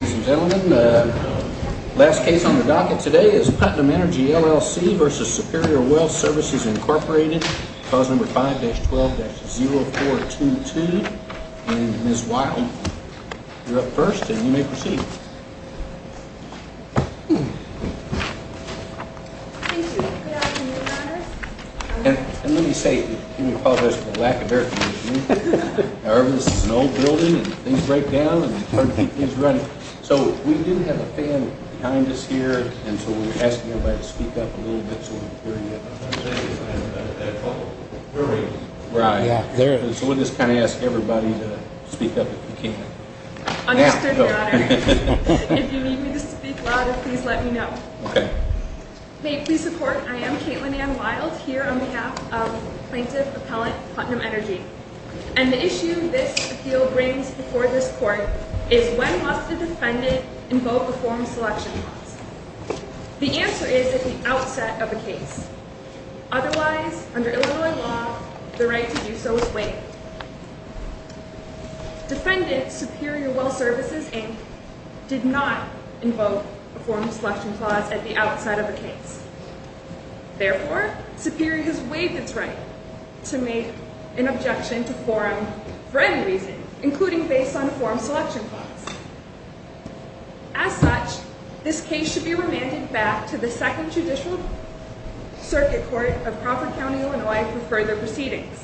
Ladies and gentlemen, the last case on the docket today is Putnam Energy, LLC, v. Superior Well Services, Inc. Clause number 5-12-0422. And Ms. Wild, you're up first and you may proceed. Thank you. Good afternoon, Your Honor. Let me apologize for the lack of air conditioning. However, this is an old building and things break down. So we do have a fan behind us here and so we're asking everybody to speak up a little bit so we can hear you. So we'll just kind of ask everybody to speak up if you can. Understood, Your Honor. If you need me to speak louder, please let me know. May it please the Court, I am Caitlin Ann Wild here on behalf of Plaintiff Appellant Putnam Energy. And the issue this appeal brings before this Court is when must a defendant invoke a form selection clause? The answer is at the outset of a case. Otherwise, under Illinois law, the right to do so is waived. Defendant Superior Well Services, Inc. did not invoke a form selection clause at the outside of a case. Therefore, Superior has waived its right to make an objection to forum for any reason, including based on a form selection clause. As such, this case should be remanded back to the Second Judicial Circuit Court of Crawford County, Illinois for further proceedings.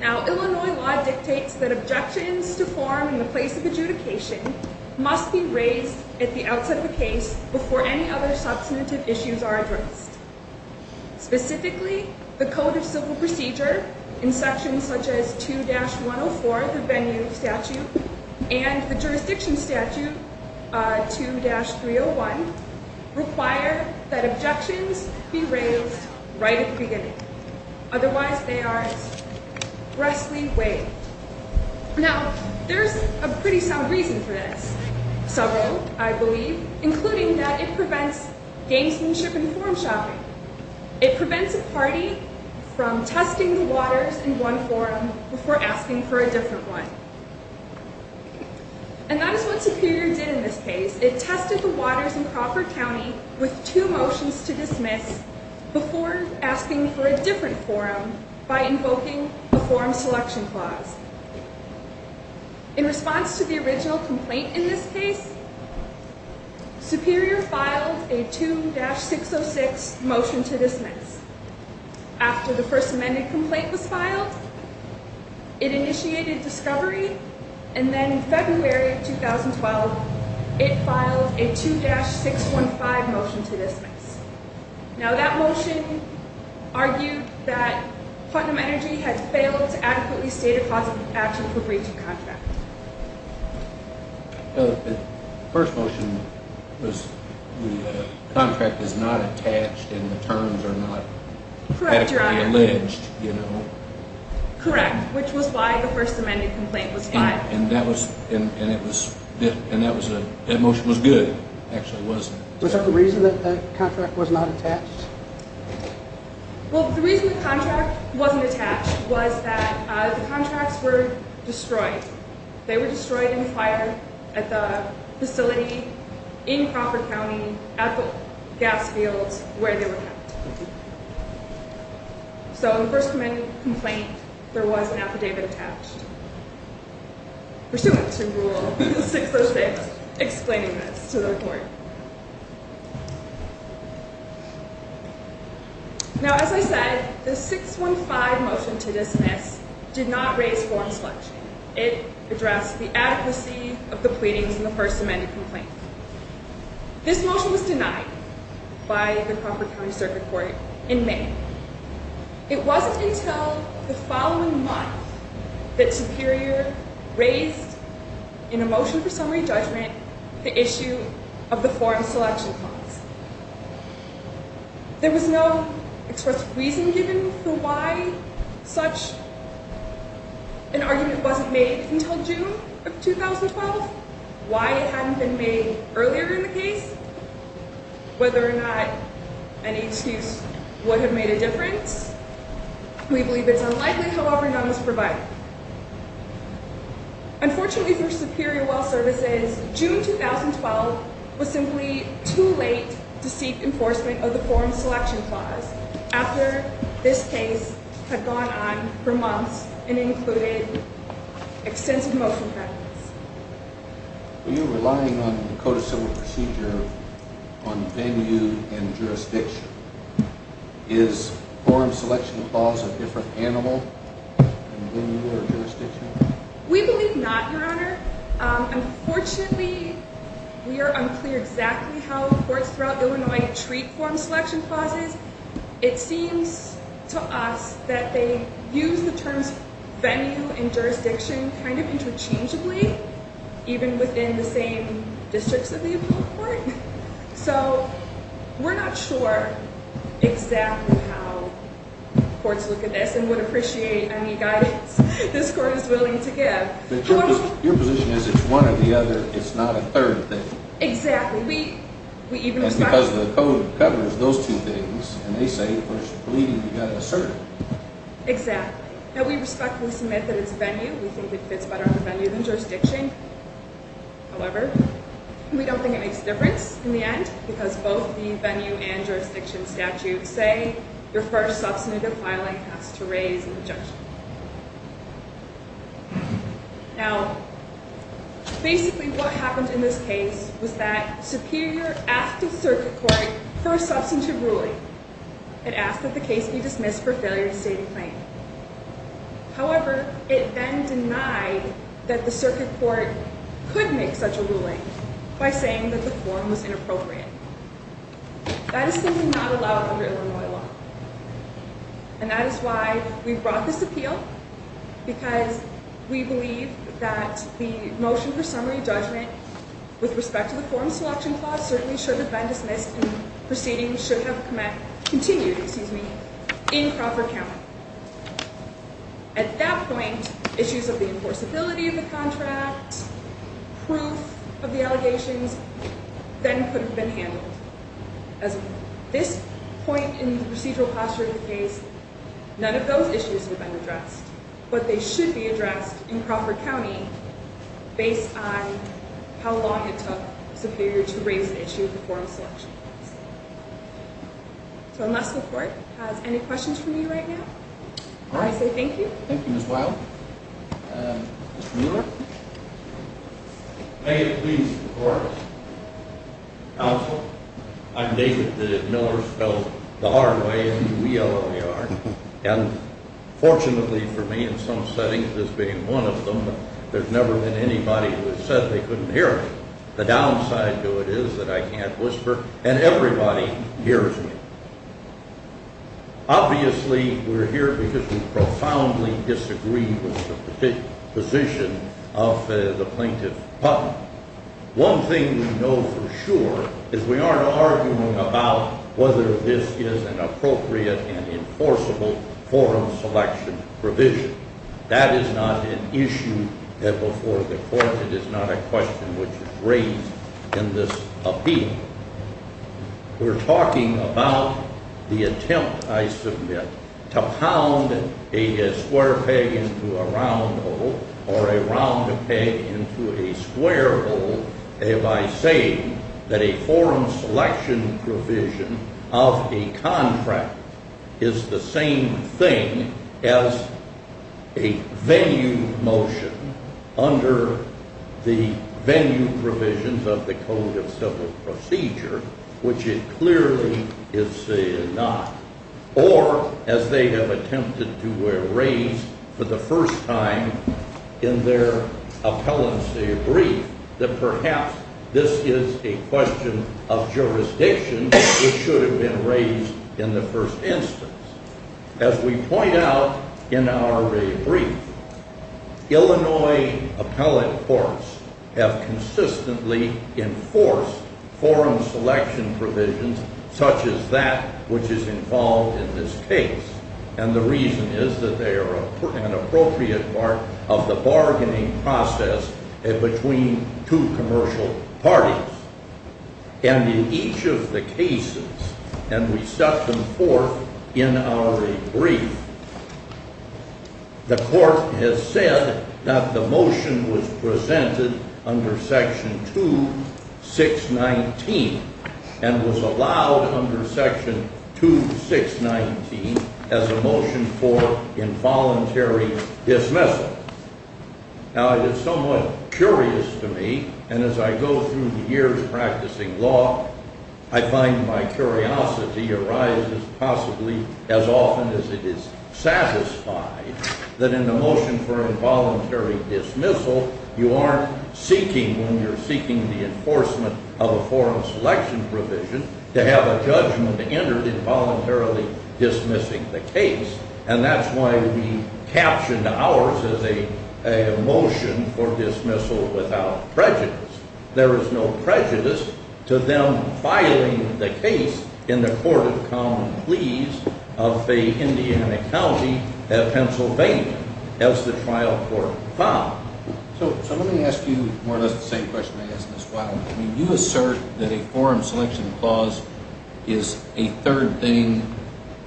Now, Illinois law dictates that objections to forum in the place of adjudication must be raised at the outset of a case before any other substantive issues are addressed. Specifically, the Code of Civil Procedure in sections such as 2-104, the Venue Statute, and the Jurisdiction Statute, 2-301, require that objections be raised right at the beginning. Otherwise, they are restly waived. Now, there is a pretty sound reason for this. Several, I believe, including that it prevents gamesmanship and forum shopping. It prevents a party from testing the waters in one forum before asking for a different one. And that is what Superior did in this case. It tested the waters in Crawford County with two motions to dismiss before asking for a different forum by invoking the forum selection clause. In response to the original complaint in this case, Superior filed a 2-606 motion to dismiss. After the first amended complaint was filed, it initiated discovery, and then in February of 2012, it filed a 2-615 motion to dismiss. Now, that motion argued that Putnam Energy had failed to adequately state a clause of action for breach of contract. The first motion was the contract is not attached and the terms are not adequately alleged, you know. Correct, which was why the first amended complaint was filed. And that motion was good. Actually, it wasn't. Was there a reason that the contract was not attached? Well, the reason the contract wasn't attached was that the contracts were destroyed. They were destroyed in a fire at the facility in Crawford County at the gas fields where they were kept. So, in the first amended complaint, there was an affidavit attached pursuant to Rule 606 explaining this to the court. Now, as I said, the 615 motion to dismiss did not raise forum selection. It addressed the adequacy of the pleadings in the first amended complaint. This motion was denied by the Crawford County Circuit Court in May. It wasn't until the following month that Superior raised in a motion for summary judgment the issue of the forum selection clause. There was no expressed reason given for why such an argument wasn't made until June of 2012, why it hadn't been made earlier in the case, whether or not any excuse would have made a difference. We believe it's unlikely, however, none was provided. Unfortunately for Superior Well Services, June 2012 was simply too late to seek enforcement of the forum selection clause after this case had gone on for months and included extensive motion patents. Were you relying on Dakota Civil Procedure on venue and jurisdiction? Is forum selection clause a different animal than venue or jurisdiction? We believe not, Your Honor. Unfortunately, we are unclear exactly how courts throughout Illinois treat forum selection clauses. It seems to us that they use the terms venue and jurisdiction kind of interchangeably, even within the same districts of the appellate court. So, we're not sure exactly how courts look at this and would appreciate any guidance this court is willing to give. Your position is it's one or the other, it's not a third thing. Exactly. And because the code covers those two things, and they say, of course, we believe you've got to assert it. Exactly. Now, we respectfully submit that it's venue. We think it fits better under venue than jurisdiction. However, we don't think it makes a difference in the end because both the venue and jurisdiction statutes say your first substantive filing has to raise an objection. Now, basically what happened in this case was that Superior asked the circuit court for a substantive ruling. It asked that the case be dismissed for failure to state a claim. However, it then denied that the circuit court could make such a ruling by saying that the forum was inappropriate. That is simply not allowed under Illinois law. And that is why we brought this appeal because we believe that the motion for summary judgment with respect to the forum selection clause certainly should have been dismissed and proceedings should have continued in Crawford County. At that point, issues of the enforceability of the contract, proof of the allegations, then could have been handled. At this point in the procedural posture of the case, none of those issues would have been addressed. But they should be addressed in Crawford County based on how long it took Superior to raise an issue of the forum selection clause. So unless the court has any questions for me right now, I say thank you. Thank you, Ms. Wild. Mr. Miller? May it please the court. Counsel, I'm David. The Millers spelled the R way and the W-E-L-L-E-R. And fortunately for me in some settings, this being one of them, there's never been anybody who has said they couldn't hear me. The downside to it is that I can't whisper and everybody hears me. Obviously, we're here because we profoundly disagree with the position of the Plaintiff Putnam. One thing we know for sure is we aren't arguing about whether this is an appropriate and enforceable forum selection provision. That is not an issue before the court. It is not a question which is raised in this appeal. We're talking about the attempt, I submit, to pound a square peg into a round hole or a round peg into a square hole. And by saying that a forum selection provision of a contract is the same thing as a venue motion under the venue provisions of the Code of Civil Procedure, which it clearly is not, or as they have attempted to erase for the first time in their appellancy brief, that perhaps this is a question of jurisdiction which should have been raised in the first instance. As we point out in our brief, Illinois appellate courts have consistently enforced forum selection provisions such as that which is involved in this case. And the reason is that they are an appropriate part of the bargaining process between two commercial parties. And in each of the cases, and we set them forth in our brief, the court has said that the motion was presented under Section 2619 and was allowed under Section 2619 as a motion for involuntary dismissal. Now, it is somewhat curious to me, and as I go through the years practicing law, I find my curiosity arises possibly as often as it is satisfied, that in the motion for involuntary dismissal, you aren't seeking, when you're seeking the enforcement of a forum selection provision, to have a judgment entered involuntarily dismissing the case. And that's why we captioned ours as a motion for dismissal without prejudice. There is no prejudice to them filing the case in the Court of Common Pleas of a Indiana county, Pennsylvania, as the trial court found. So let me ask you more or less the same question I asked Ms. Wildman. I mean, you assert that a forum selection clause is a third thing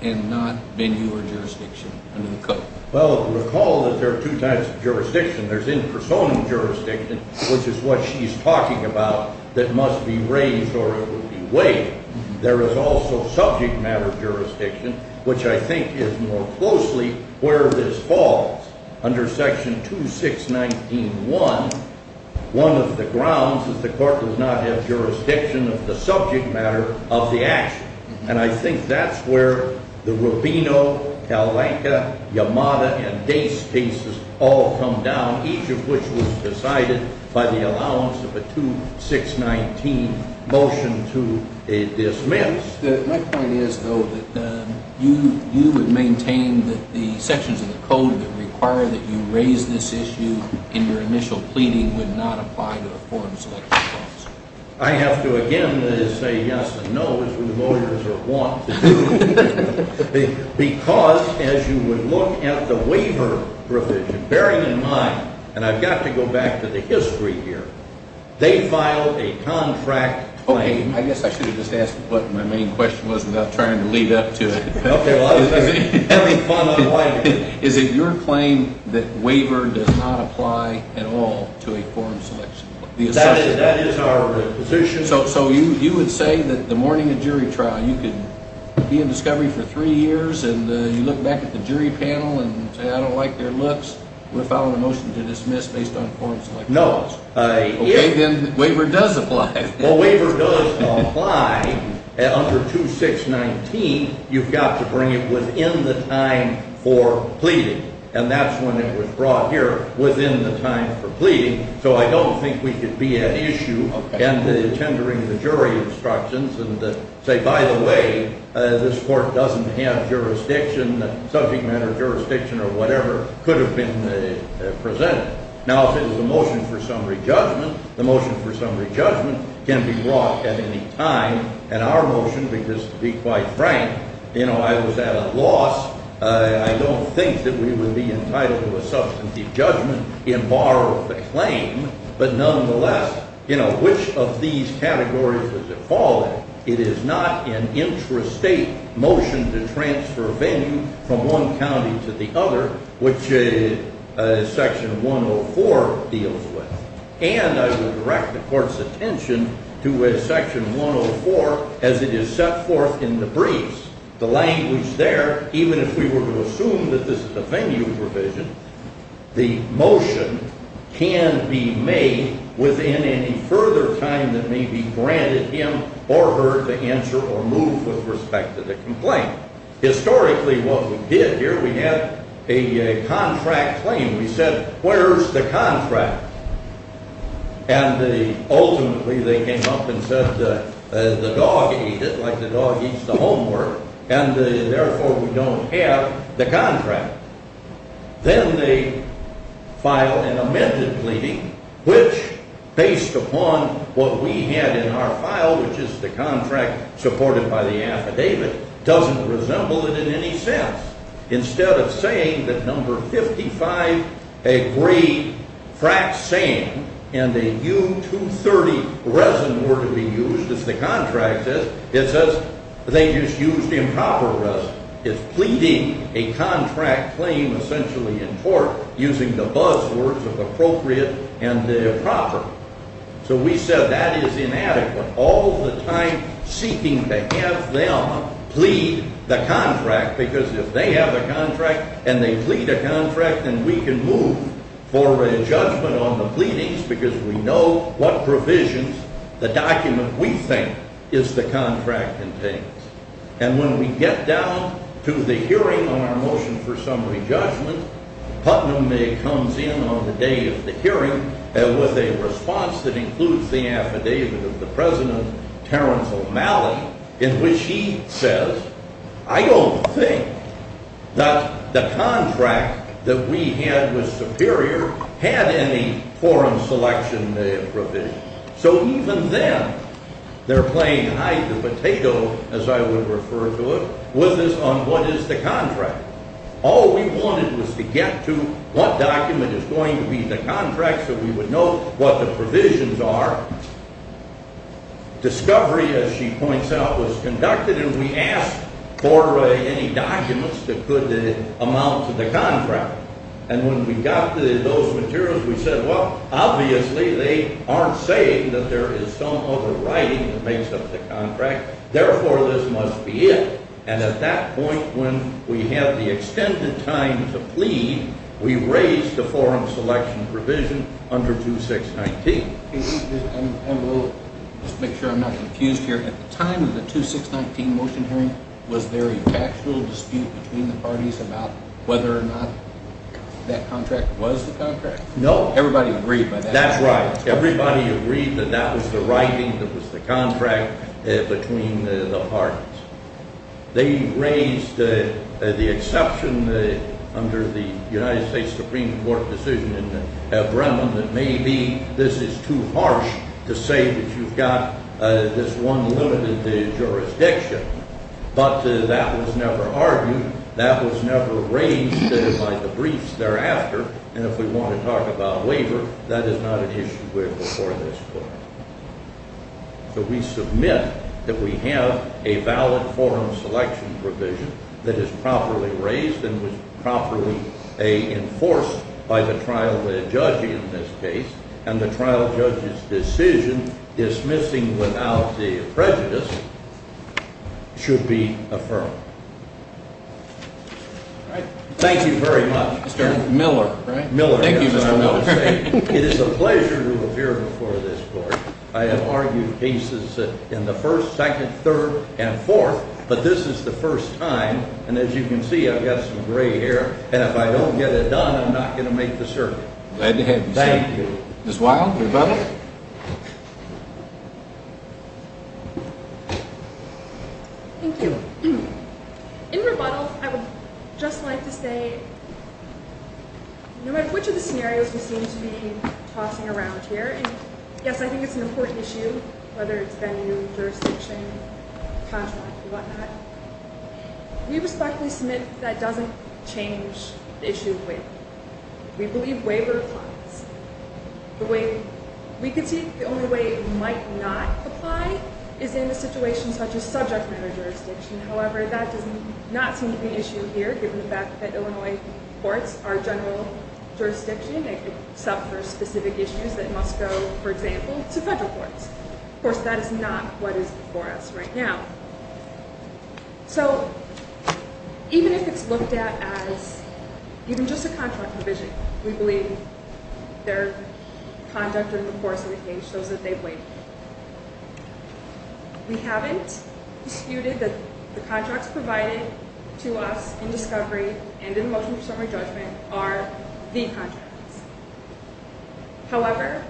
and not venue or jurisdiction under the Code. Well, recall that there are two types of jurisdiction. There's in-person jurisdiction, which is what she's talking about, that must be raised or it would be weighed. There is also subject matter jurisdiction, which I think is more closely where this falls. Under Section 2619.1, one of the grounds is the court does not have jurisdiction of the subject matter of the action. And I think that's where the Rubino, Alenka, Yamada, and Dase cases all come down, each of which was decided by the allowance of a 2619 motion to a dismiss. My point is, though, that you would maintain that the sections of the Code that require that you raise this issue in your initial pleading would not apply to a forum selection clause. I have to, again, say yes and no, as we lawyers are wont to do. Because, as you would look at the waiver provision, bearing in mind, and I've got to go back to the history here, they filed a contract claim. Okay, I guess I should have just asked what my main question was without trying to lead up to it. Okay, well, that was fun. Is it your claim that waiver does not apply at all to a forum selection clause? That is our position. So you would say that the morning of jury trial, you could be in discovery for three years, and you look back at the jury panel and say, I don't like their looks. We're filing a motion to dismiss based on forum selection clause. No. Okay, then waiver does apply. Well, waiver does apply. Under 2619, you've got to bring it within the time for pleading. And that's when it was brought here, within the time for pleading. So I don't think we could be at issue and tendering the jury instructions and say, by the way, this court doesn't have jurisdiction, subject matter jurisdiction or whatever could have been presented. Now, if it was a motion for summary judgment, the motion for summary judgment can be brought at any time. And our motion, because to be quite frank, you know, I was at a loss. I don't think that we would be entitled to a substantive judgment in bar of the claim. But nonetheless, you know, which of these categories does it fall in? It is not an intrastate motion to transfer a venue from one county to the other, which Section 104 deals with. And I will direct the court's attention to Section 104 as it is set forth in the briefs. The language there, even if we were to assume that this is a venue provision, the motion can be made within any further time that may be granted him or her to answer or move with respect to the complaint. Historically, what we did here, we had a contract claim. We said, where's the contract? And ultimately, they came up and said the dog ate it like the dog eats the homework. And therefore, we don't have the contract. Then they filed an amended pleading, which based upon what we had in our file, which is the contract supported by the affidavit, doesn't resemble it in any sense. Instead of saying that number 55 agreed, frac saying, and a U-230 resin were to be used, as the contract says, it says they just used improper resin. It's pleading a contract claim essentially in court using the buzzwords of appropriate and improper. So we said that is inadequate, all the time seeking to have them plead the contract. Because if they have a contract and they plead a contract, then we can move for a judgment on the pleadings because we know what provisions the document we think is the contract contains. And when we get down to the hearing on our motion for summary judgment, Putnam comes in on the day of the hearing with a response that includes the affidavit of the President, Terrence O'Malley, in which he says, I don't think that the contract that we had was superior had any forum selection provision. So even then, they're playing hide the potato, as I would refer to it, with us on what is the contract. All we wanted was to get to what document is going to be the contract so we would know what the provisions are. Discovery, as she points out, was conducted and we asked for any documents that could amount to the contract. And when we got to those materials, we said, well, obviously they aren't saying that there is some other writing that makes up the contract. Therefore, this must be it. And at that point, when we have the extended time to plead, we raise the forum selection provision under 2619. Let's make sure I'm not confused here. At the time of the 2619 motion hearing, was there a factual dispute between the parties about whether or not that contract was the contract? No. Everybody agreed by that? That's right. Everybody agreed that that was the writing that was the contract between the parties. They raised the exception under the United States Supreme Court decision in Bremen that maybe this is too harsh to say that you've got this one limited jurisdiction. But that was never argued. That was never raised by the briefs thereafter. And if we want to talk about waiver, that is not an issue before this court. So we submit that we have a valid forum selection provision that is properly raised and was properly enforced by the trial judge in this case, and the trial judge's decision dismissing without the prejudice should be affirmed. Thank you very much. Mr. Miller, right? Miller. Thank you, Mr. Miller. It is a pleasure to appear before this court. I have argued cases in the first, second, third, and fourth, but this is the first time. And as you can see, I've got some gray hair. And if I don't get it done, I'm not going to make the circuit. Thank you. Ms. Weil, rebuttal? Thank you. In rebuttal, I would just like to say no matter which of the scenarios we seem to be tossing around here, and yes, I think it's an important issue, whether it's venue, jurisdiction, contract, or whatnot, we respectfully submit that doesn't change the issue of waiver. We believe waiver applies. We concede the only way it might not apply is in a situation such as subject matter jurisdiction. However, that does not seem to be an issue here given the fact that Illinois courts are general jurisdiction. They could suffer specific issues that must go, for example, to federal courts. Of course, that is not what is before us right now. So even if it's looked at as even just a contract provision, we believe their conduct in the course of the case shows that they've waived. We haven't disputed that the contracts provided to us in discovery and in the motion for summary judgment are the contracts. However,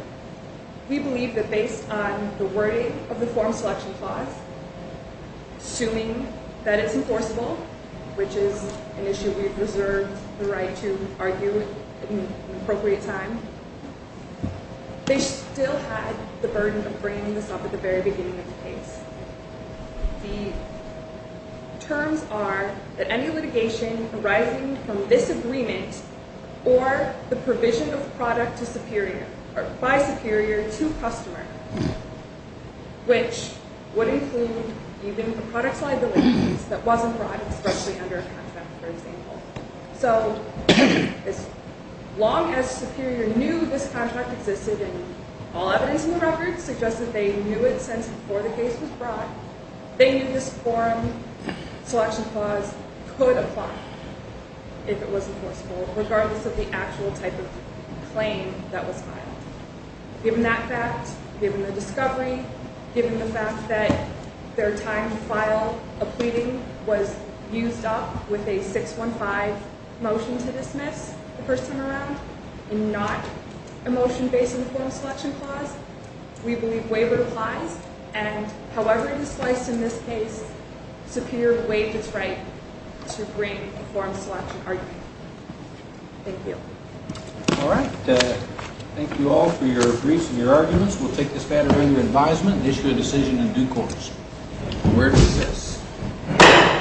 we believe that based on the wording of the form selection clause, assuming that it's enforceable, which is an issue we've reserved the right to argue in an appropriate time, they still had the burden of bringing this up at the very beginning of the case. The terms are that any litigation arising from this agreement or the provision of the product by Superior to a customer, which would include even a product liability case that wasn't brought expressly under a contract, for example. So as long as Superior knew this contract existed and all evidence in the record suggests that they knew it since before the case was brought, they knew this form selection clause could apply if it wasn't enforceable, regardless of the actual type of claim that was filed. Given that fact, given the discovery, given the fact that their time to file a pleading was used up with a 615 motion to dismiss the person around and not a motion based on the form selection clause, we believe waiver applies, and however it is sliced in this case, Superior waived its right to bring a form selection argument. Thank you. All right. Thank you all for your briefs and your arguments. We'll take this matter under advisement and issue a decision in due course. The court is dismissed.